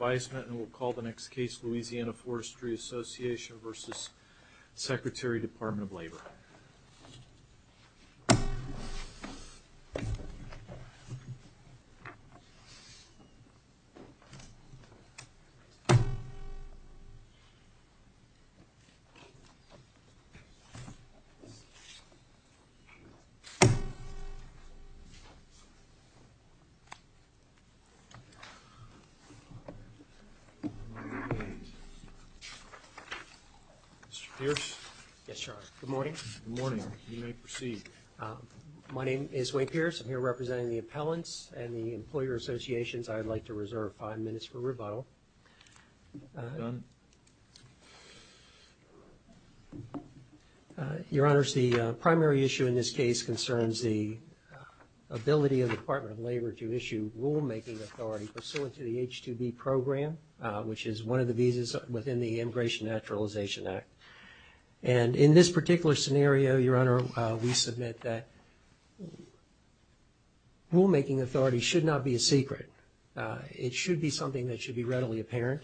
We'll call the next case Louisiana Forestry Association Vs. Secretary Department of Labor. Mr. Pierce? Yes, Your Honor. Good morning. Good morning. You may proceed. My name is Wayne Pierce. I'm here representing the appellants and the employer associations. I'd like to reserve five minutes for rebuttal. You're done? Your Honors, the primary issue in this case concerns the ability of the Department of Labor to issue rulemaking authority pursuant to the H-2B program, which is one of the visas within the Immigration and Naturalization Act. And in this particular scenario, Your Honor, we submit that rulemaking authority should not be a secret. It should be something that should be readily apparent,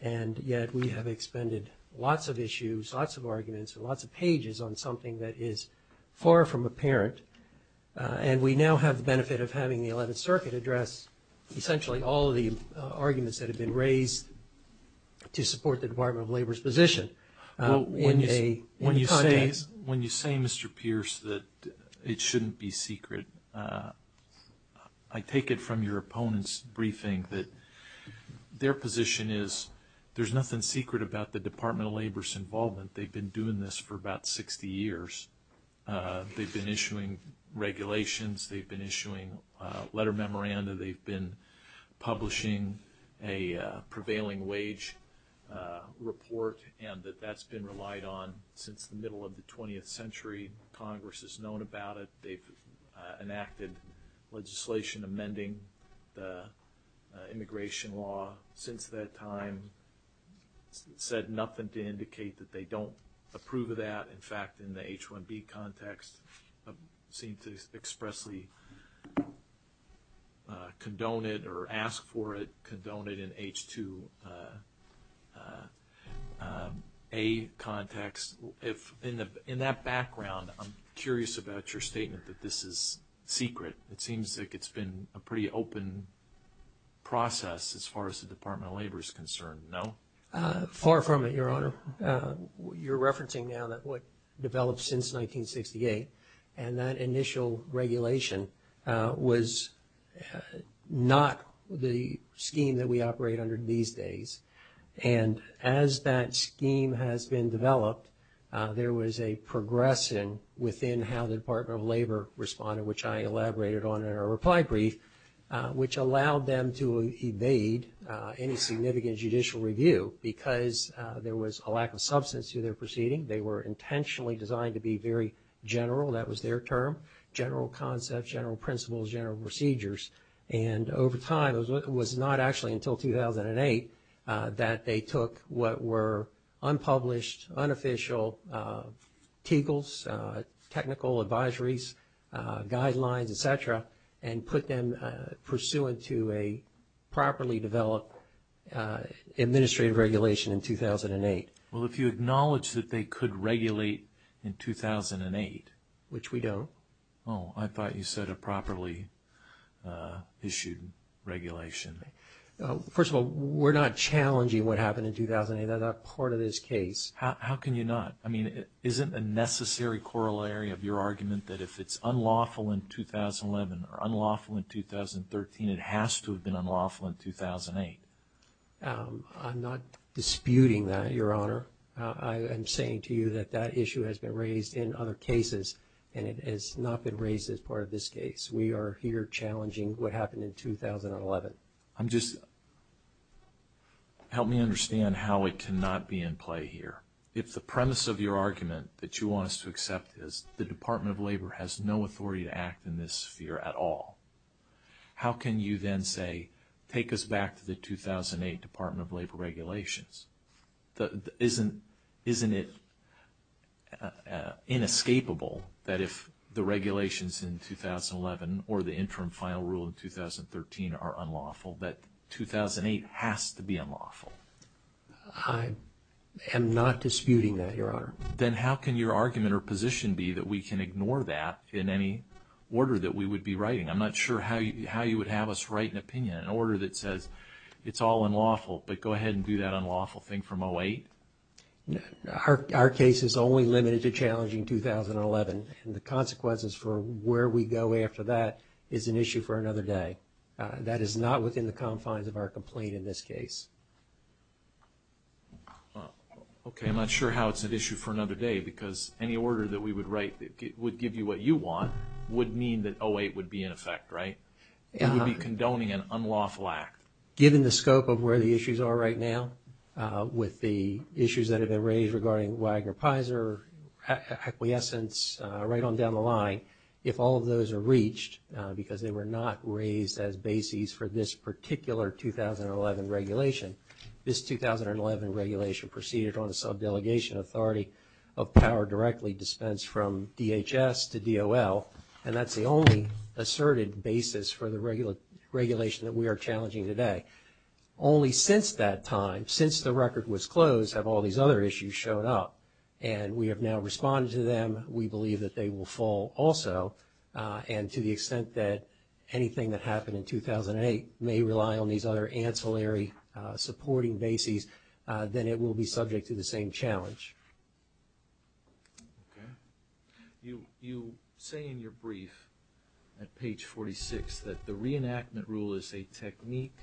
and yet we have expended lots of issues, lots of arguments, and lots of pages on something that is far from apparent. And we now have the benefit of having the Eleventh Circuit address essentially all of the arguments that have been raised to support the Department of Labor's position in the context. When you say, Mr. Pierce, that it shouldn't be secret, I take it from your opponent's briefing that their position is there's nothing secret about the Department of Labor's involvement. They've been doing this for about 60 years. They've been issuing regulations. They've been issuing letter memoranda. They've been publishing a prevailing wage report, and that that's been relied on since the middle of the 20th century. Congress has known about it. They've enacted legislation amending the immigration law since that time, and said nothing to indicate that they don't approve of that. In fact, in the H-1B context, seem to expressly condone it or ask for it, condone it in H-2A context. In that background, I'm curious about your statement that this is secret. It seems like it's been a pretty open process as far as the Department of Labor is concerned. No? Far from it, Your Honor. You're referencing now that what developed since 1968, and that initial regulation was not the scheme that we operate under these days. And as that scheme has been developed, there was a progression within how the Department of Labor responded, which I elaborated on in our reply brief, which allowed them to evade any significant judicial review because there was a lack of substance to their proceeding. They were intentionally designed to be very general. That was their term, general concepts, general principles, general procedures. And over time, it was not actually until 2008 that they took what were unpublished, unofficial teagles, technical advisories, guidelines, et cetera, and put them pursuant to a properly developed administrative regulation in 2008. Well, if you acknowledge that they could regulate in 2008... Which we don't. Oh, I thought you said a properly issued regulation. First of all, we're not challenging what happened in 2008. That's not part of this case. How can you not? I mean, isn't a necessary corollary of your argument that if it's unlawful in 2011 or unlawful in 2013, it has to have been unlawful in 2008? I'm not disputing that, Your Honor. I am saying to you that that issue has been raised in other cases, and it has not been raised as part of this case. We are here challenging what happened in 2011. I'm premise of your argument that you want us to accept is the Department of Labor has no authority to act in this sphere at all. How can you then say, take us back to the 2008 Department of Labor regulations? Isn't it inescapable that if the regulations in 2011 or the interim final rule in 2013 are unlawful, that 2008 has to be unlawful? I am not disputing that, Your Honor. Then how can your argument or position be that we can ignore that in any order that we would be writing? I'm not sure how you would have us write an opinion, an order that says it's all unlawful, but go ahead and do that unlawful thing from 2008? Our case is only limited to challenging 2011, and the consequences for where we go after that is an issue for another day. That is not within the confines of our complaint in this case. Okay, I'm not sure how it's an issue for another day, because any order that we would write that would give you what you want would mean that 2008 would be in effect, right? It would be condoning an unlawful act. Given the scope of where the issues are right now, with the issues that have been raised regarding Wagner-Peyser, acquiescence, right on down the line, if all of those are reached, because they were not raised as bases for this particular 2011 regulation, this 2011 regulation proceeded on a subdelegation authority of power directly dispensed from DHS to DOL, and that's the only asserted basis for the regulation that we are challenging today. Only since that time, since the record was closed have all these other issues shown up, and we have now responded to them. We believe that they will fall also, and to the extent that anything that happened in 2008 may rely on these other ancillary supporting bases, then it will be subject to the same challenge. You say in your brief at page 46 that the reenactment rule is a technique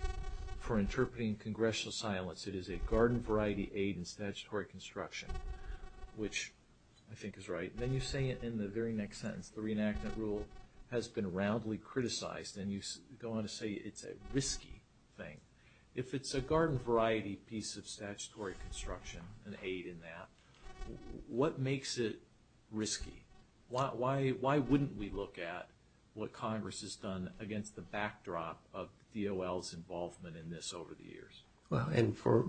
for interpreting congressional silence. It is a garden variety aid in statutory construction, which I think is right. Then you say it in the very next sentence, the reenactment rule has been roundly criticized, and you go on to say it's a risky thing. If it's a garden variety piece of statutory construction, an aid in that, what makes it risky? Why wouldn't we look at what Congress has done against the backdrop of DOL's involvement in this over the years? For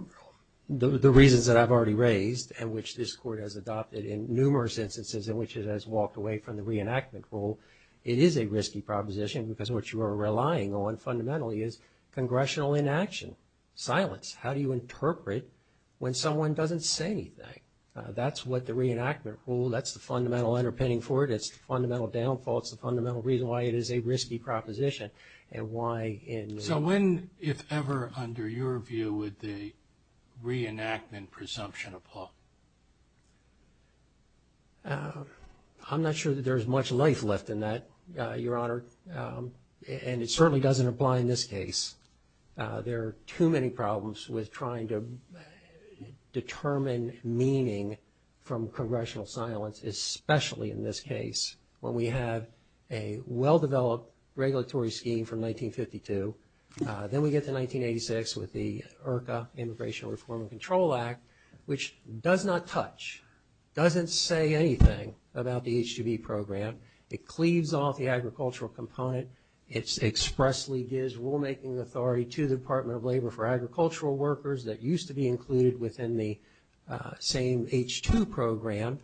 the reasons that I've already raised, and which this Court has adopted in numerous instances in which it has walked away from the reenactment rule, it is a risky proposition because what you are relying on fundamentally is congressional inaction, silence. How do you interpret when someone doesn't say anything? That's what the reenactment rule, that's the fundamental underpinning for it, it's the fundamental downfall, it's the fundamental reason why it is a risky proposition, and why in the world. So when, if ever, under your view, would the reenactment presumption apply? I'm not sure that there's much life left in that, Your Honor, and it certainly doesn't apply in this case. There are too many problems with trying to determine meaning from congressional silence, especially in this case, when we have a well-developed regulatory scheme from Congress. Then we get to 1986 with the IRCA, Immigration Reform and Control Act, which does not touch, doesn't say anything about the H-2B program. It cleaves off the agricultural component. It expressly gives rulemaking authority to the Department of Labor for agricultural workers that used to be included within the same H-2 program,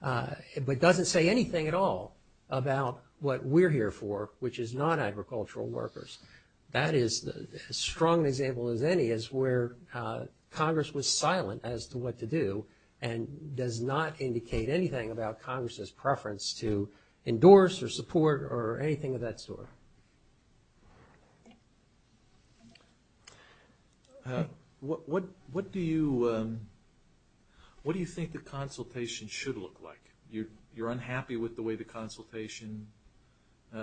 but doesn't say anything at all about what we're here for, which is non-agricultural workers. That is, as strong an example as any, is where Congress was silent as to what to do, and does not indicate anything about Congress's preference to endorse or support or anything of that sort. What do you, what do you think the consultation should look like? You're unhappy with the way the consultation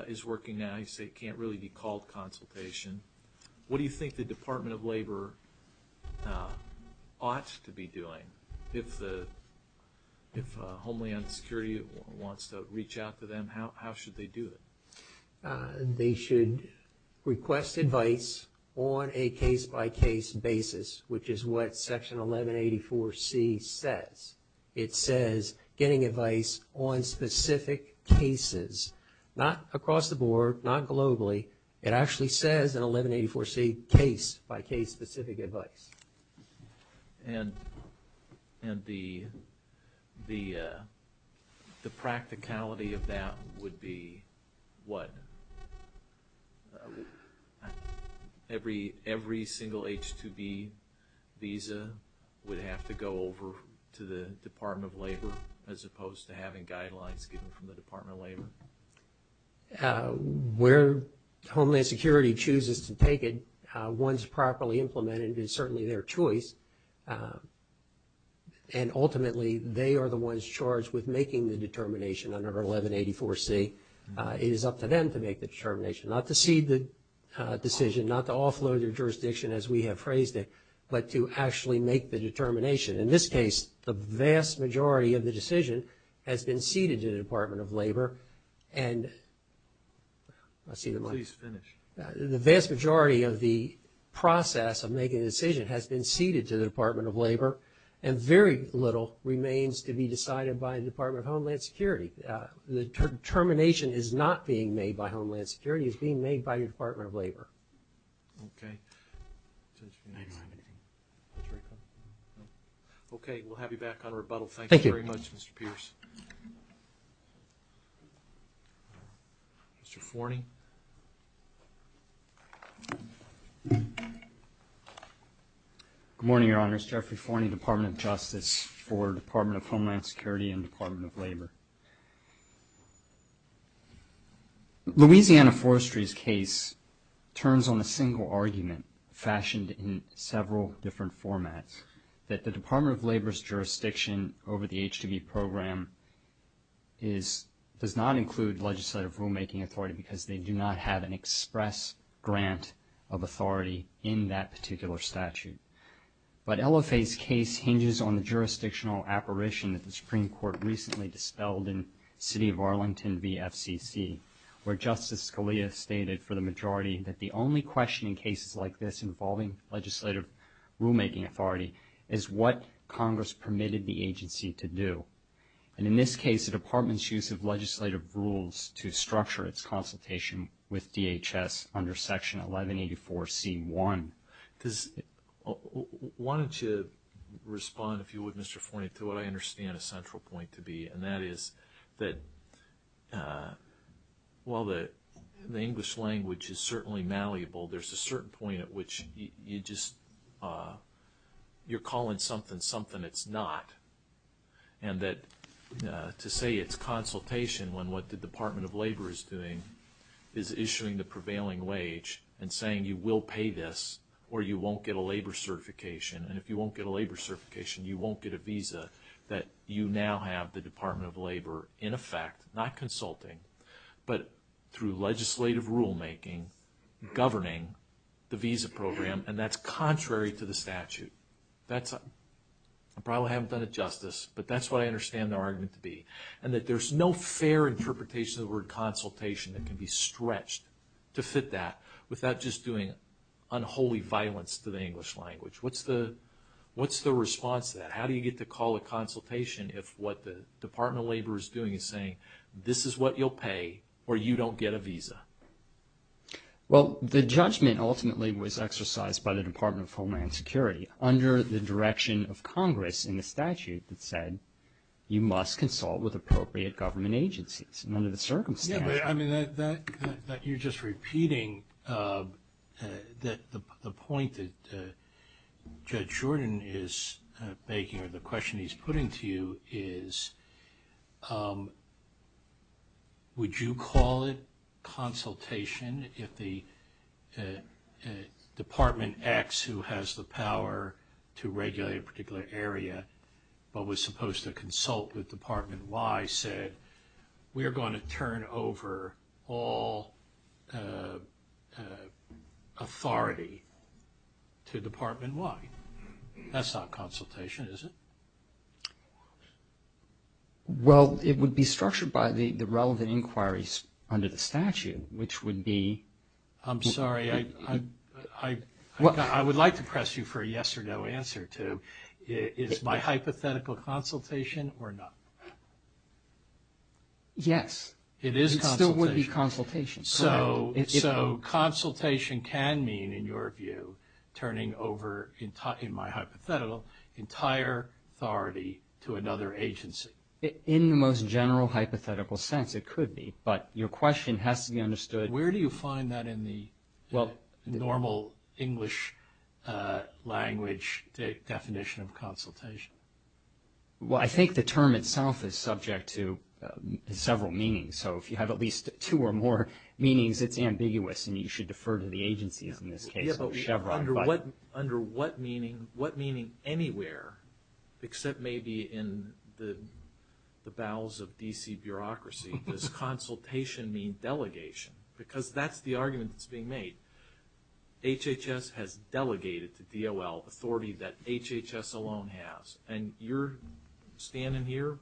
is working now. You say it can't really be called consultation. What do you think the Department of Labor ought to be doing? If Homeland Security wants to reach out to them, how should they do it? They should request advice on a case-by-case basis, which is what Section 1184C says. It says specific cases, not across the board, not globally. It actually says in 1184C, case-by-case specific advice. And the practicality of that would be what? Every single H-2B visa would have to go over to the Department of Labor as opposed to having guidelines given from the Department of Labor. Where Homeland Security chooses to take it, once properly implemented, it's certainly their choice. And ultimately, they are the ones charged with making the determination under 1184C. It is up to them to make the determination, not to cede the decision, not to offload their jurisdiction as we have phrased it, but to actually make the determination. In this case, the vast majority of the decision has been ceded to the Department of Labor. And the vast majority of the process of making the decision has been ceded to the Department of Labor, and very little remains to be decided by the Department of Homeland Security. The determination is not being made by Homeland Security. It's being made by the Department of Labor. Okay. Okay, we'll have you back on rebuttal. Thank you very much, Mr. Pierce. Thank you. Mr. Forney. Good morning, Your Honors. Jeffrey Forney, Department of Justice for Department of Homeland Security. The LFA's case turns on a single argument fashioned in several different formats, that the Department of Labor's jurisdiction over the H-2B program does not include legislative rulemaking authority because they do not have an express grant of authority in that particular statute. But LFA's case hinges on the jurisdictional apparition that the Supreme Court recently FCC, where Justice Scalia stated for the majority that the only question in cases like this involving legislative rulemaking authority is what Congress permitted the agency to do. And in this case, the Department's use of legislative rules to structure its consultation with DHS under Section 1184C1. Why don't you respond, if you would, Mr. Forney, to what I understand a central point to be, and that is that while the English language is certainly malleable, there's a certain point at which you're calling something something it's not. And that to say it's consultation when what the Department of Labor is doing is issuing the prevailing wage and saying you will pay this or you won't get a labor certification, and if you won't get a labor the Department of Labor, in effect, not consulting, but through legislative rulemaking, governing the visa program, and that's contrary to the statute. I probably haven't done it justice, but that's what I understand the argument to be. And that there's no fair interpretation of the word consultation that can be stretched to fit that without just doing unholy violence to the English language. What's the response to that? How do you get to call a consultation if what the Department of Labor is doing is saying this is what you'll pay or you don't get a visa? Well, the judgment ultimately was exercised by the Department of Homeland Security under the direction of Congress in the statute that said you must consult with appropriate government agencies, and under the circumstances. I mean, that you're just going to do is, would you call it consultation if the Department X, who has the power to regulate a particular area, but was supposed to consult with Department Y, said we're going to turn over all authority to Department Y? That's not consultation, is it? Well, it would be structured by the relevant inquiries under the statute, which would be... I'm sorry. I would like to press you for a yes or no answer to, is my hypothetical consultation or not? Yes. It is consultation. It still would be consultation. So, consultation can mean, in your view, turning over, in my hypothetical, entire authority to another agency. In the most general hypothetical sense, it could be, but your question has to be understood... Where do you find that in the normal English language definition of consultation? Well, I think the term itself is subject to several meanings. So, if you have at least two or more meanings, it's ambiguous, and you should defer to the agencies in this case, or Chevron. Under what meaning, what meaning anywhere, except maybe in the bowels of D.C. bureaucracy, does consultation mean delegation? Because that's the argument that's being made. HHS has delegated to DOL authority that HHS alone has. And you're standing here,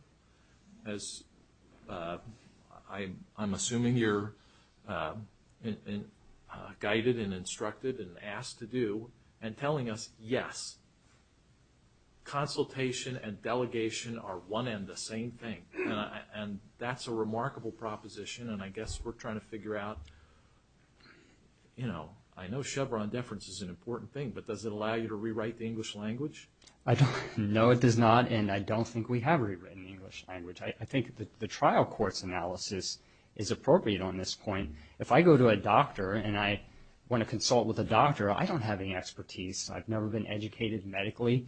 as I'm assuming you're guided and instructed and asked to do, and telling us, yes, consultation and delegation are one and the same thing. And that's a remarkable proposition, and I guess we're trying to figure out... I know Chevron deference is an important thing, but does it allow you to rewrite the English language? No, it does not, and I don't think we have rewritten the English language. I think the trial court's analysis is appropriate on this point. If I go to a doctor and I want to consult with a doctor, I don't have any expertise. I've never been educated medically.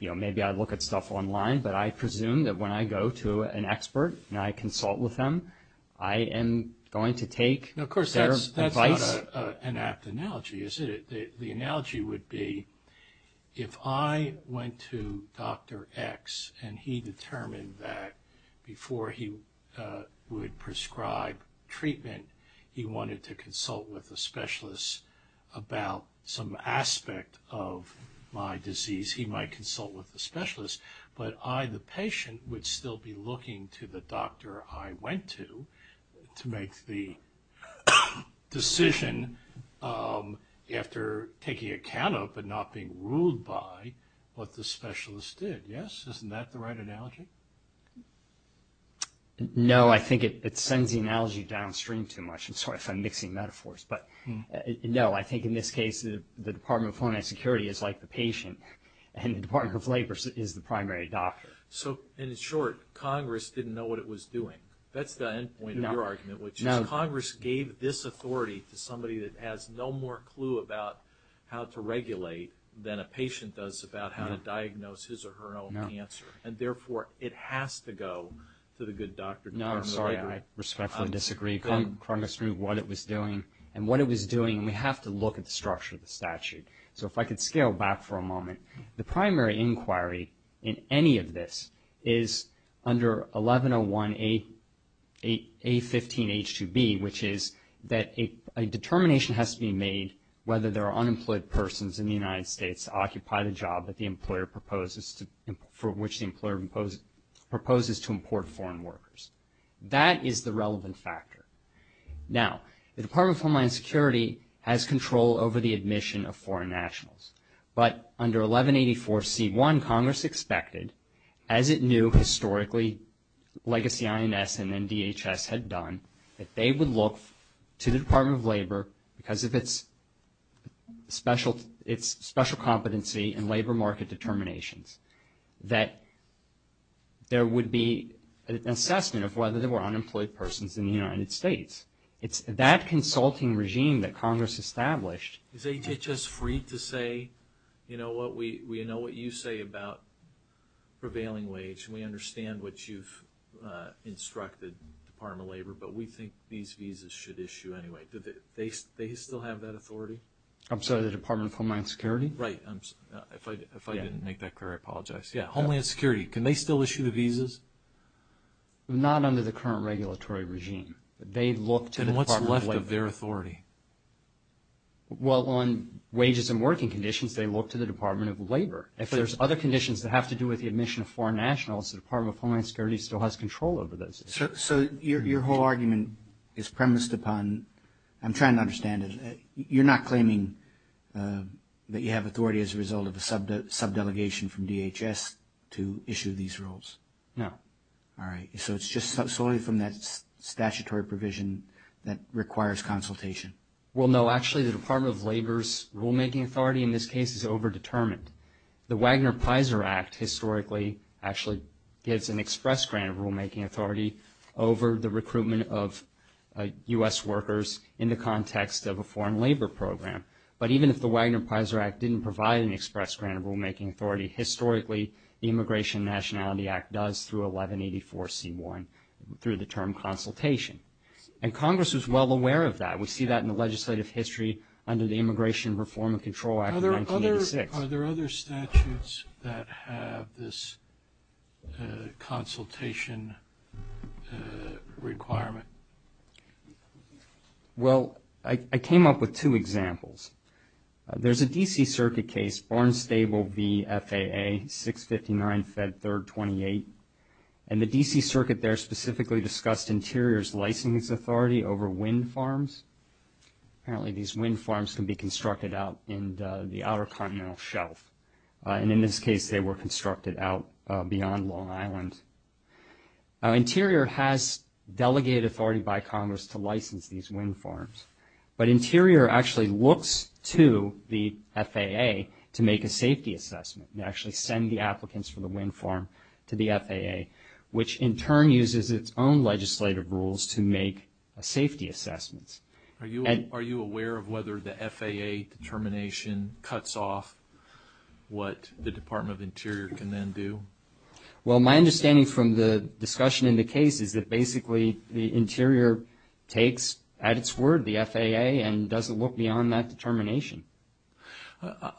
Maybe I look at stuff online, but I presume that when I go to an expert and I consult with them, I am going to take their advice? No, of course, that's not an apt analogy, is it? The analogy would be, if I went to Dr. X and he determined that before he would prescribe treatment, he wanted to consult with a specialist about some aspect of my disease, he might consult with the specialist. But I, the patient, would still be looking to the doctor I went to to make the decision after taking account of, but not being ruled by, what the specialist did. Yes? Isn't that the right analogy? No, I think it sends the analogy downstream too much. I'm sorry if I'm mixing metaphors, but no, I think in this case, the Department of Homeland Security is like the patient, and the Department of Labor is the primary doctor. So, in short, Congress didn't know what it was doing. That's the end point of your argument, which is Congress gave this authority to somebody that has no more clue about how to regulate than a patient does about how to diagnose his or her own cancer. And therefore, it has to go to the good doctor. No, I'm sorry, I respectfully disagree. Congress knew what it was doing, and what it was doing, we have to look at the structure of the statute. So, if I could scale back for a moment, the primary inquiry in any of this is under 1101A15H2B, which is that a determination has to be made whether there are unemployed persons in the United States to occupy the job that the employer proposes to, for which the employer proposes to import foreign workers. That is the relevant factor. Now, the Department of Homeland Security has control over the admission of foreign nationals, but under 1184C1, Congress expected, as it knew historically, legacy INS and NDHS had done, that they would look to the Department of Labor, because of its special competency and labor market determinations, that there would be an assessment of whether there were unemployed persons in the United States. It's that consulting regime that Congress established. Is HHS free to say, you know what, we know what you say about prevailing wage, and we understand what you've instructed the Department of Labor, but we think these visas should issue anyway. Do they still have that authority? I'm sorry, the Department of Homeland Security? Right. If I didn't make that clear, I apologize. Yeah, Homeland Security, can they still issue the visas? Not under the current regulatory regime, but they look to the Department of Labor. And what's left of their authority? Well, on wages and working conditions, they look to the Department of Labor. If there's other conditions that have to do with the admission of foreign nationals, the Department of Homeland Security still has control over those issues. So your whole argument is premised upon, I'm trying to understand it, you're not claiming that you have authority as a result of a subdelegation from DHS to issue these rules? No. All right. So it's just solely from that statutory provision that requires consultation? Well, no. Actually, the Department of Labor's rulemaking authority in this case is over-determined. The Wagner-Peyser Act historically actually gives an express grant of rulemaking authority over the recruitment of U.S. workers in the context of a foreign labor program. But even if the Wagner-Peyser Act didn't provide an express grant of rulemaking authority, historically the Immigration and Nationality Act does through 1184C1 through the term consultation. And Congress was well aware of that. We see that in the legislative history under the Immigration Reform and Control Act of 1986. Are there other statutes that have this consultation requirement? Well, I came up with two examples. There's a D.C. Circuit case, Barnstable v. FAA, 659 Fed 3rd 28. And the D.C. Circuit there specifically discussed Interior's license authority over wind farms. Apparently these wind farms can be constructed out in the Outer Continental Shelf. And in this case, they were constructed out beyond Long Island. Interior has delegated authority by Congress to license these wind farms. But Interior actually looks to the FAA to make a safety assessment and actually send the applicants for the wind farm to the FAA, which in turn uses its own legislative rules to make safety assessments. Are you aware of whether the FAA determination cuts off what the Department of Interior can then do? Well, my understanding from the discussion in the case is that basically the Interior takes at its word the FAA and doesn't look beyond that determination.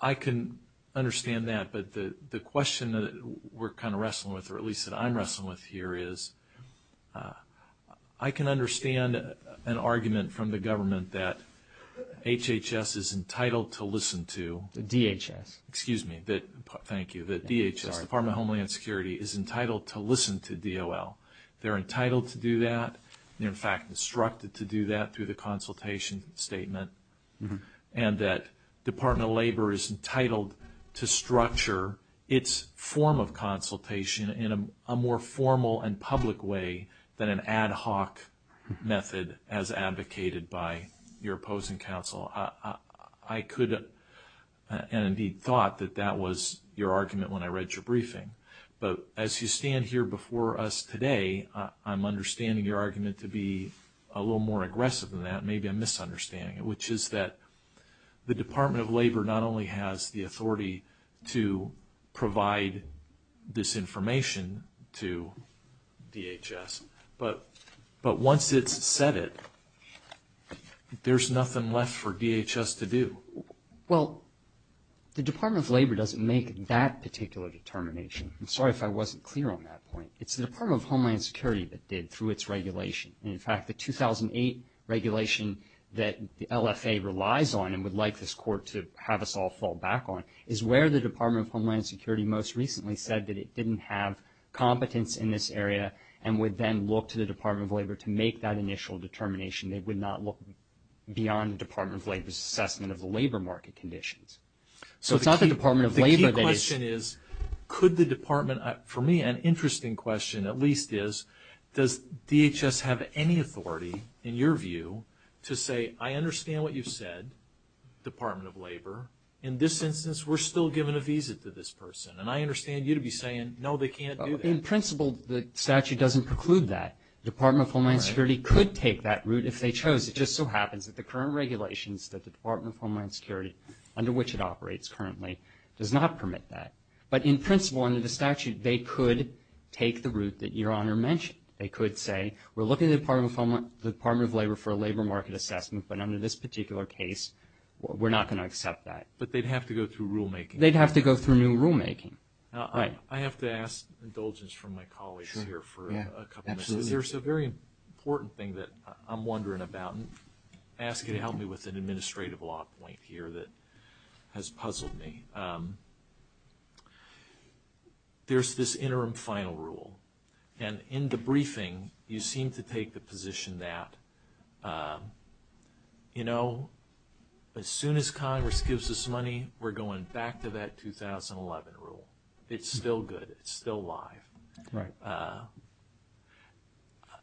I can understand that. But the question that we're kind of wrestling with, or at least that I'm wrestling with here is, I can understand an argument from the government that HHS is entitled to listen to. The DHS. Excuse me. Thank you. The DHS, Department of Homeland Security, is entitled to listen to DOL. They're entitled to do that. They're, in fact, instructed to do that through the consultation statement. And that Department of Labor is entitled to structure its form of consultation in a more formal and public way than an ad hoc method as advocated by your opposing counsel. I could have thought that that was your argument when I read your briefing. But as you stand here before us today, I'm understanding your argument to be a little more aggressive than that. Maybe I'm misunderstanding it, which is that the Department of Labor not only has the authority to provide this information to DHS, but once it's said it, there's nothing left for DHS to do. Well, the Department of Labor doesn't make that particular determination. I'm sorry if I wasn't clear on that point. It's the Department of Homeland Security that did through its regulation. In fact, the 2008 regulation that the LFA relies on and would like this court to have us all fall back on is where the Department of Homeland Security most recently said that it didn't have competence in this area and would then look to the Department of Labor to make that initial determination. They would not look beyond the Department of Labor's assessment of the labor market conditions. So it's not the Department of Labor that is... The key question is, could the Department... For me, an interesting question at least is, does DHS have any authority, in your view, to say, I understand what you've said, Department of Labor. In this instance, we're still giving a visa to this person. And I understand you to be saying, no, they can't do that. In principle, the statute doesn't preclude that. The Department of Homeland Security could take that route if they chose. It just so happens that the current regulations that the Department of Homeland Security, under which it operates currently, does not permit that. But in principle, under the statute, they could take the route that Your Honor mentioned. They could say, we're looking to the Department of Labor for a labor market assessment. But under this particular case, we're not going to accept that. But they'd have to go through rulemaking. They'd have to go through new rulemaking. I have to ask indulgence from my colleagues here for a couple minutes. Absolutely. There's a very important thing that I'm wondering about, and ask you to help me with an administrative law point here that has puzzled me. There's this interim final rule. And in the briefing, you seem to take the position that, you know, as soon as Congress gives us money, we're going back to that 2011 rule. It's still good. It's still alive. Right.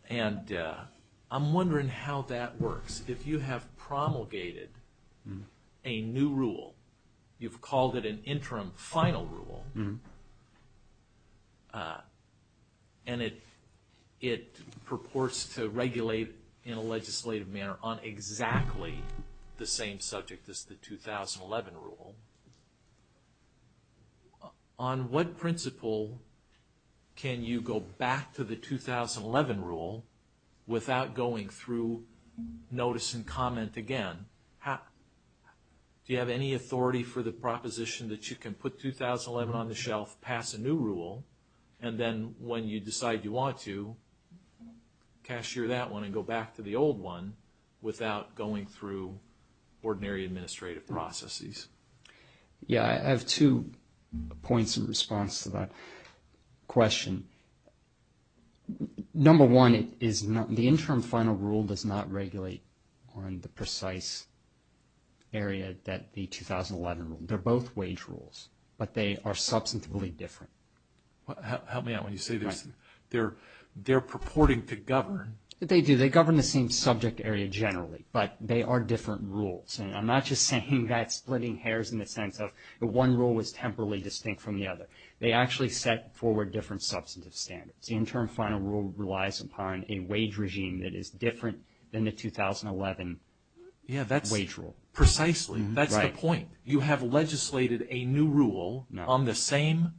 And I'm wondering how that works. If you have promulgated a new rule, you've called it an interim final rule, and it purports to regulate in a legislative manner on exactly the same subject as the 2011 rule. On what principle can you go back to the 2011 rule without going through notice and comment again? Do you have any authority for the proposition that you can put 2011 on the shelf, pass a new rule, and then when you decide you want to, cash back to the old one without going through ordinary administrative processes? Yeah, I have two points in response to that question. Number one, the interim final rule does not regulate on the precise area that the 2011 rule. They're both wage rules, but they are substantively different. Help me out when you say this. Right. They're purporting to govern. They do. They govern the same subject area generally, but they are different rules. And I'm not just saying that splitting hairs in the sense of one rule was temporally distinct from the other. They actually set forward different substantive standards. The interim final rule relies upon a wage regime that is different than the 2011 wage rule. Precisely. That's the point. You have legislated a new rule on the same...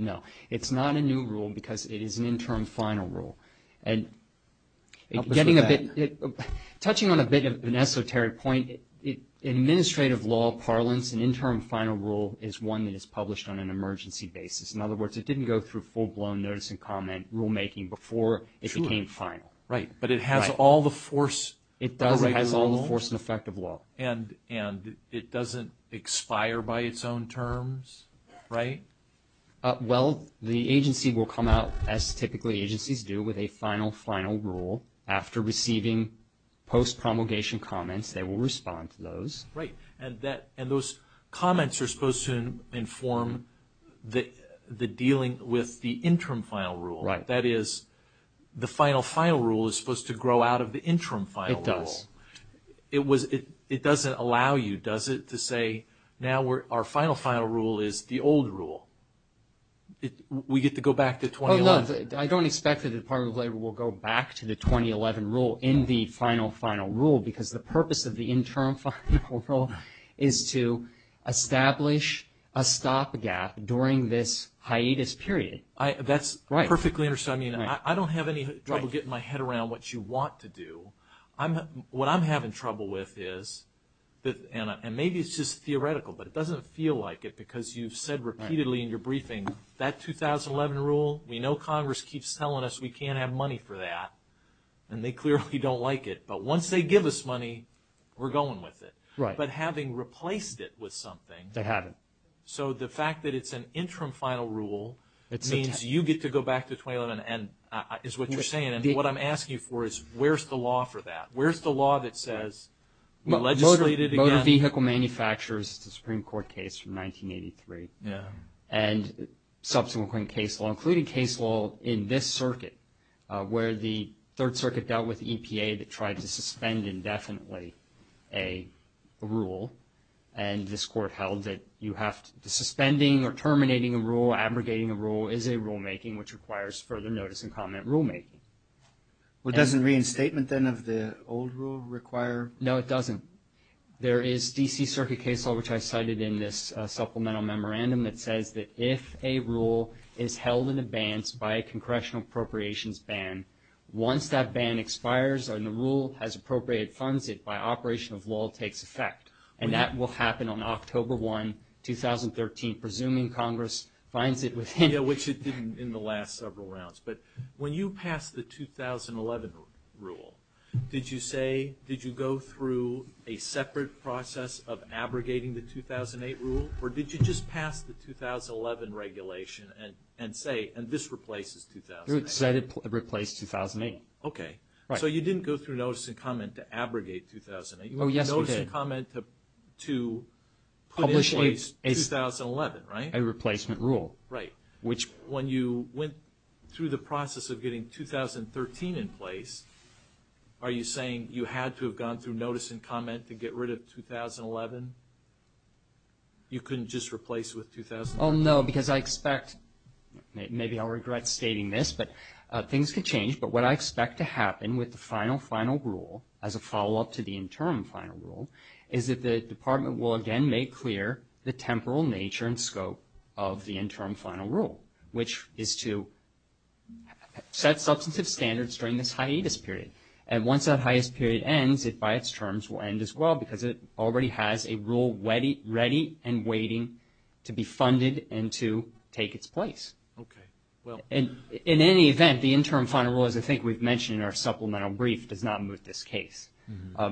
No. It's not a new rule because it is an interim final rule. Help us with that. Touching on a bit of an esoteric point, in administrative law parlance, an interim final rule is one that is published on an emergency basis. In other words, it didn't go through full-blown notice and comment rulemaking before it became final. Right. But it has all the force... It does. It has all the force and effect of law. And it doesn't expire by its own terms, right? Well, the agency will come out, as typically agencies do, with a final final rule. After receiving post-promulgation comments, they will respond to those. Right. And those comments are supposed to inform the dealing with the interim final rule. Right. That is, the final final rule is supposed to grow out of the interim final rule. It does. It doesn't allow you, does it, to say, now our final final rule is the old rule. We get to go back to 2011. Oh, no. I don't expect that the Department of Labor will go back to the 2011 rule in the final final rule because the purpose of the interim final rule is to establish a stop gap during this hiatus period. That's perfectly understood. I mean, I don't have any trouble getting my head around what you want to do. What I'm having trouble with is, and maybe it's just theoretical, but it doesn't feel like it because you've said repeatedly in your briefing, that 2011 rule, we know Congress keeps telling us we can't have money for that. And they clearly don't like it. But once they give us money, we're going with it. Right. But having replaced it with something. They haven't. So the fact that it's an interim final rule means you get to go back to 2011 is what you're asking for is where's the law for that? Where's the law that says we legislate it again? Motor vehicle manufacturers, the Supreme Court case from 1983. Yeah. And subsequent case law, including case law in this circuit where the Third Circuit dealt with EPA that tried to suspend indefinitely a rule. And this court held that you have to, suspending or terminating a rule, abrogating a rule, is a rulemaking which requires further notice and comment rulemaking. Well, doesn't reinstatement then of the old rule require? No, it doesn't. There is D.C. Circuit case law, which I cited in this supplemental memorandum that says that if a rule is held in advance by a congressional appropriations ban, once that ban expires and the rule has appropriated funds, it by operation of law takes effect. And that will happen on October 1, 2013, presuming Congress finds it within. Yeah, which it didn't in the last several rounds. But when you passed the 2011 rule, did you say, did you go through a separate process of abrogating the 2008 rule? Or did you just pass the 2011 regulation and say, and this replaces 2008? It said it replaced 2008. Okay. Right. So you didn't go through notice and comment to abrogate 2008. Oh, yes we did. Notice and comment to put in place 2011, right? A replacement rule. Right. When you went through the process of getting 2013 in place, are you saying you had to have gone through notice and comment to get rid of 2011? You couldn't just replace with 2013? Oh, no, because I expect, maybe I'll regret stating this, but things can change. But what I expect to happen with the final, final rule as a follow-up to the interim final rule is that the department will again make clear the temporal nature and scope of the interim final rule, which is to set substantive standards during this hiatus period. And once that hiatus period ends, it by its terms will end as well, because it already has a rule ready and waiting to be funded and to take its place. Okay. In any event, the interim final rule, as I think we've mentioned in our supplemental brief, does not moot this case,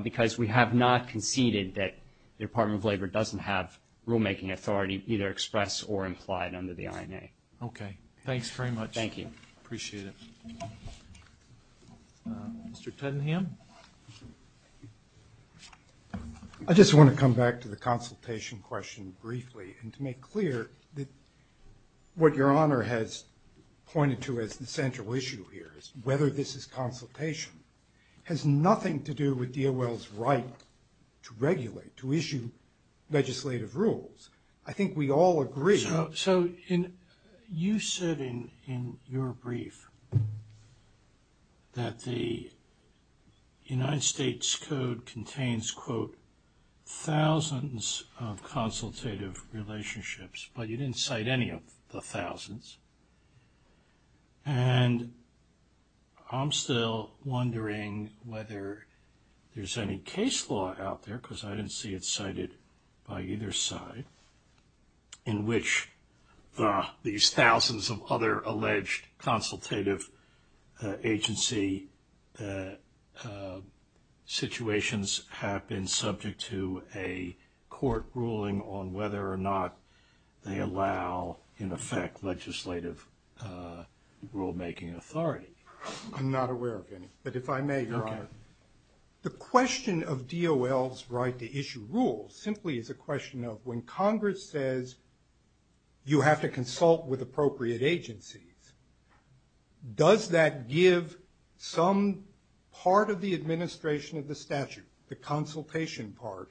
because we have not conceded that the Department of Labor doesn't have rulemaking authority either expressed or implied under the INA. Okay. Thanks very much. Thank you. Appreciate it. Mr. Tedenham? I just want to come back to the consultation question briefly and to make clear that what Your Honor has pointed to as the central issue here, is whether this is consultation, has nothing to do with DOL's right to regulate, to issue legislative rules. I think we all agree. So you said in your brief that the United States Code contains, quote, thousands of And I'm still wondering whether there's any case law out there, because I didn't see it cited by either side, in which these thousands of other alleged consultative agency situations subject to a court ruling on whether or not they allow, in effect, legislative rulemaking authority. I'm not aware of any, but if I may, Your Honor, the question of DOL's right to issue rules simply is a question of when Congress says you have to consult with appropriate agencies, does that give some part of the administration of the statute, the consultation part,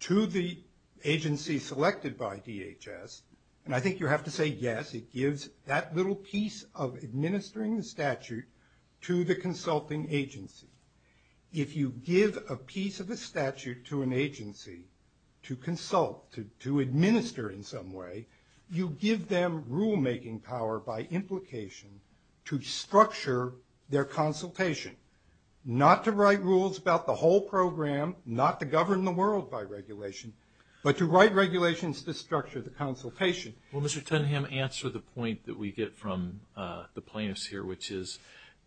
to the agency selected by DHS? And I think you have to say yes, it gives that little piece of administering the statute to the consulting agency. If you give a piece of the statute to an agency to consult, to administer in some way, you give them rulemaking power by implication to structure their consultation, not to write rules about the whole program, not to govern the world by regulation, but to write regulations to structure the consultation. Well, Mr. Tenham, answer the point that we get from the plaintiffs here, which is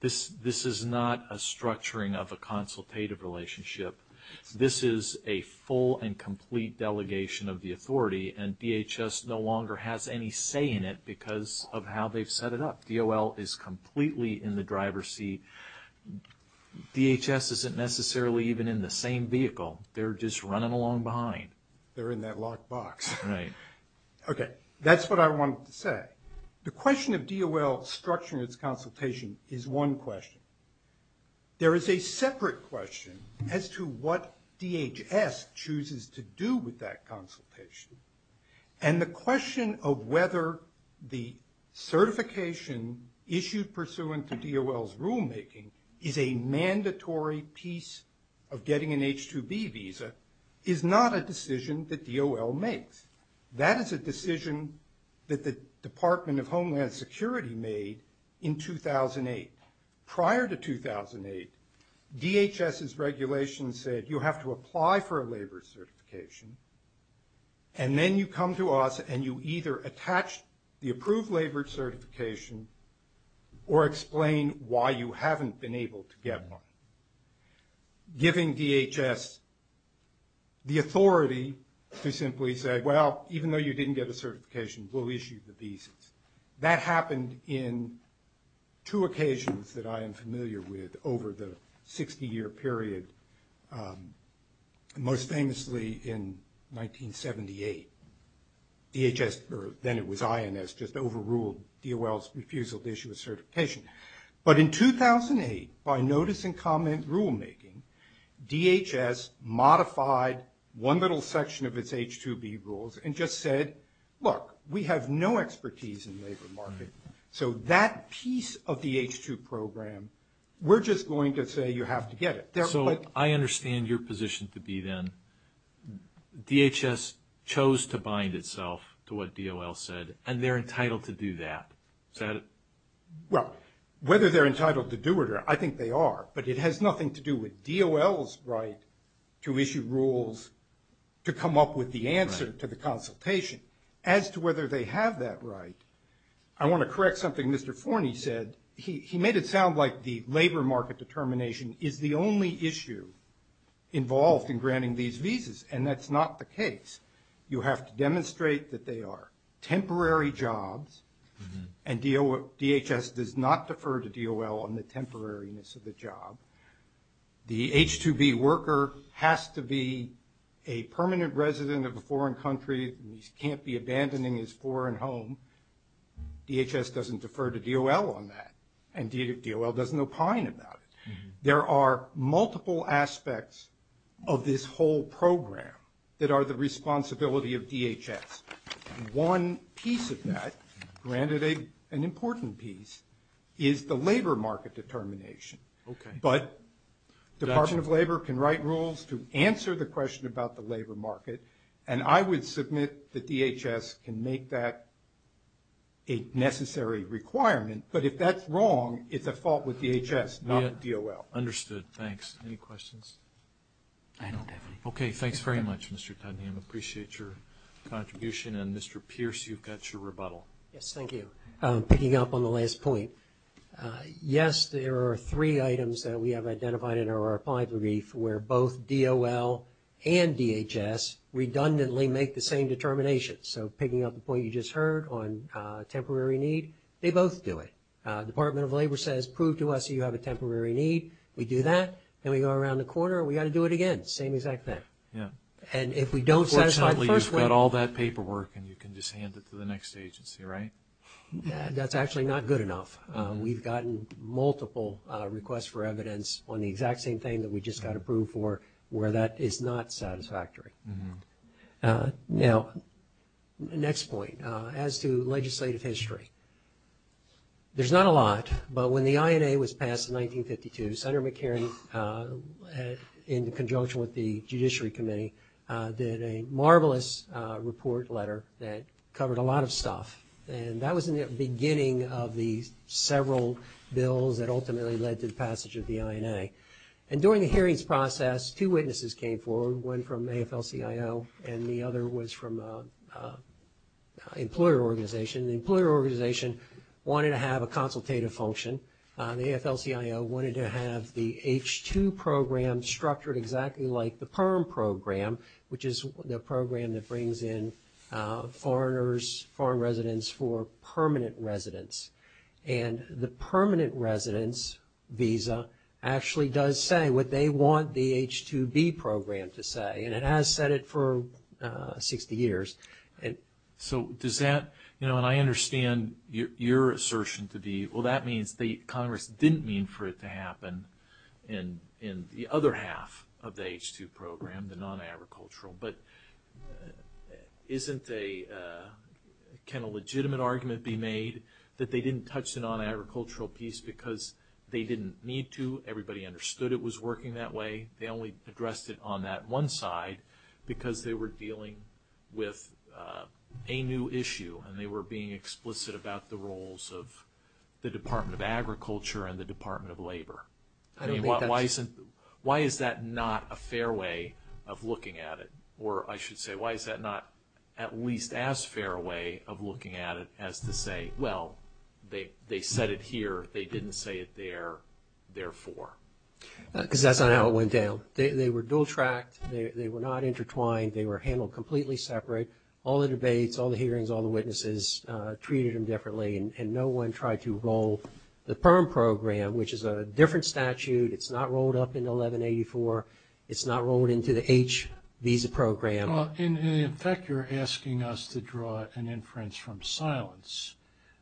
this is not a structuring of a consultative relationship. This is a full and complete delegation of the authority, and DHS no longer has any say in it because of how they've set it up. DOL is completely in the driver's seat. DHS isn't necessarily even in the same vehicle. They're just running along behind. They're in that locked box. Right. Okay, that's what I wanted to say. The question of DOL structuring its consultation is one question. There is a separate question as to what DHS chooses to do with that consultation. And the question of whether the certification issued pursuant to DOL's rulemaking is a mandatory piece of getting an H-2B visa is not a decision that DOL makes. That is a decision that the Department of Homeland Security made in 2008. Prior to 2008, DHS's regulations said you have to apply for a labor certification, and then you come to us and you either attach the approved labor certification or explain why you haven't been able to get one, giving DHS the authority to simply say, well, even though you didn't get a certification, we'll issue the visas. That happened in two occasions that I am familiar with over the 60-year period, most famously in 1978. DHS, or then it was INS, just overruled DOL's refusal to issue a certification. But in 2008, by notice and comment rulemaking, DHS modified one little section of its H-2B rules and just said, look, we have no expertise in labor market. So that piece of the H-2 program, we're just going to say you have to get it. So I understand your position to be then DHS chose to bind itself to what DOL said, and they're entitled to do that. Is that it? Well, whether they're entitled to do it or not, I think they are. But it has nothing to do with DOL's right to issue rules to come up with the answer to the consultation. As to whether they have that right, I want to correct something Mr. Forney said. He made it sound like the labor market determination is the only issue involved in granting these visas, and that's not the case. You have to demonstrate that they are temporary jobs, and DHS does not defer to DOL on the temporariness of the job. The H-2B worker has to be a permanent resident of a foreign country. He can't be abandoning his foreign home. DHS doesn't defer to DOL on that, and DOL does no pining about it. There are multiple aspects of this whole program that are the responsibility of DHS. One piece of that, granted an important piece, is the labor market determination. But the Department of Labor can write rules to answer the question about the labor market, and I would submit that DHS can make that a necessary requirement. But if that's wrong, it's a fault with DHS, not DOL. Understood. Thanks. Any questions? I don't have any. Okay. Thanks very much, Mr. Tunham. I appreciate your contribution, and Mr. Pierce, you've got your rebuttal. Yes, thank you. Picking up on the last point, yes, there are three items that we have identified in our reply brief where both DOL and DHS redundantly make the same determination. So picking up the point you just heard on temporary need, they both do it. Department of Labor says, prove to us you have a temporary need. We do that. Then we go around the corner and we've got to do it again. Same exact thing. Yeah. And if we don't satisfy the first one. Fortunately, you've got all that paperwork and you can just hand it to the next agency, right? That's actually not good enough. We've gotten multiple requests for evidence on the exact same thing that we just got approved for where that is not satisfactory. Now, next point. As to legislative history, there's not a lot, but when the INA was passed in 1952, Senator McCarran, in conjunction with the Judiciary Committee, did a marvelous report letter that covered a lot of stuff. And that was in the beginning of the several bills that ultimately led to the passage of the INA. And during the hearings process, two witnesses came forward, one from AFL-CIO and the other was from an employer organization. The employer organization wanted to have a consultative function. The AFL-CIO wanted to have the H-2 program structured exactly like the PERM program, which is the program that brings in foreigners, foreign residents for permanent residence. And the permanent residence visa actually does say what they want the H-2B program to say, and it has said it for 60 years. So does that, you know, and I understand your assertion to be, well, that means the Congress didn't mean for it to happen in the other half of the H-2 program, the non-agricultural, but can a legitimate argument be made that they didn't touch the non-agricultural piece because they didn't need to, everybody understood it was working that way, they only addressed it on that one side because they were dealing with a new issue and they were being explicit about the roles of the Department of Agriculture and the Department of Labor. Why is that not a fair way of looking at it? Or I should say, why is that not at least as fair a way of looking at it as to say, well, they said it here, they didn't say it there, therefore? Because that's not how it went down. They were dual-tracked, they were not intertwined, they were handled completely separate. All the debates, all the hearings, all the witnesses treated them differently and no one tried to roll the PERM program, which is a different statute, it's not rolled up in 1184, it's not rolled into the H-VISA program. In fact, you're asking us to draw an inference from silence,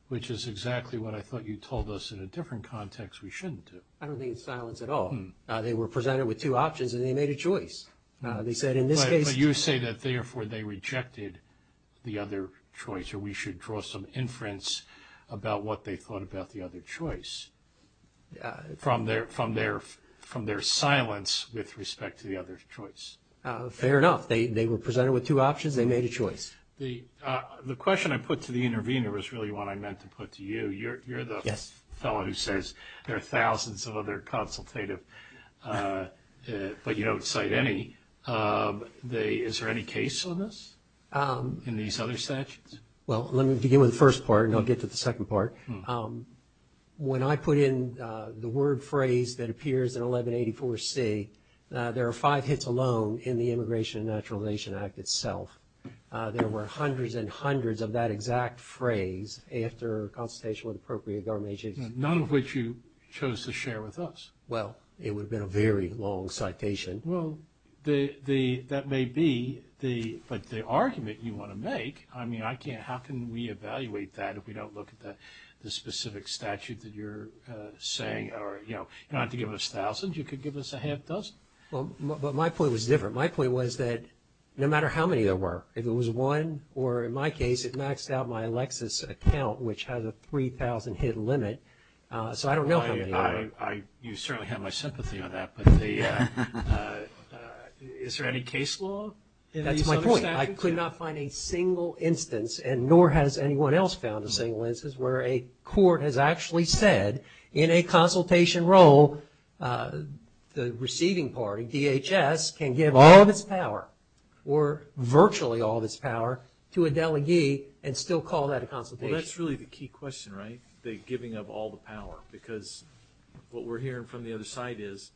which is exactly what I thought you told us in a different context we shouldn't do. I don't think it's silence at all. They were presented with two options and they made a choice. They said in this case... or we should draw some inference about what they thought about the other choice from their silence with respect to the other choice. Fair enough. They were presented with two options, they made a choice. The question I put to the intervener is really what I meant to put to you. You're the fellow who says there are thousands of other consultative, but you don't cite any. Is there any case on this in these other statutes? Well, let me begin with the first part and I'll get to the second part. When I put in the word phrase that appears in 1184C, there are five hits alone in the Immigration and Naturalization Act itself. There were hundreds and hundreds of that exact phrase after consultation with appropriate government agencies. None of which you chose to share with us. Well, it would have been a very long citation. Well, that may be, but the argument you want to make, I mean, I can't... how can we evaluate that if we don't look at the specific statute that you're saying? You don't have to give us thousands, you could give us a half dozen. Well, but my point was different. My point was that no matter how many there were, if it was one, or in my case, it maxed out my Lexis account, which has a 3,000 hit limit, so I don't know how many there were. You certainly have my sympathy on that, but is there any case law in these other statutes? That's my point. I could not find a single instance, and nor has anyone else found a single instance, where a court has actually said, in a consultation role, the receiving party, DHS, can give all of its power, or virtually all of its power, to a delegee and still call that a consultation. Well, that's really the key question, right? The giving of all the power, because what we're hearing from the other side is,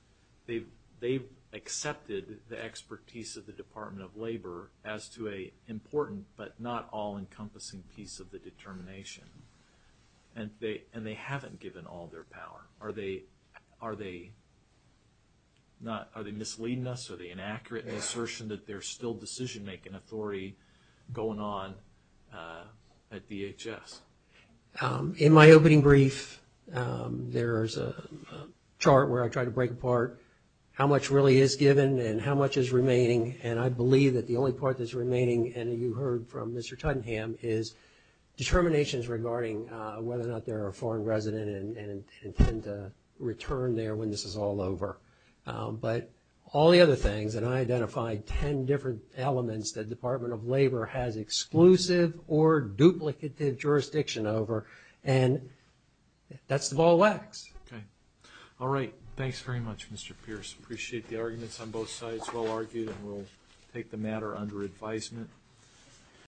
they've accepted the expertise of the Department of Labor as to an important, but not all-encompassing piece of the determination, and they haven't given all their power. Are they misleading us? Are they inaccurate in the assertion that there's still decision-making authority going on at DHS? In my opening brief, there's a chart where I try to break apart how much really is given and how much is remaining, and I believe that the only part that's remaining, and you heard from Mr. Tottenham, is determinations regarding whether or not they're a foreign resident and intend to return there when this is all over. But all the other things, and I identified ten different elements that the Department of Labor has exclusive or duplicative jurisdiction over, and that's the ball wax. Okay. All right. Thanks very much, Mr. Pierce. Appreciate the arguments on both sides. Well argued, and we'll take the matter under advisement.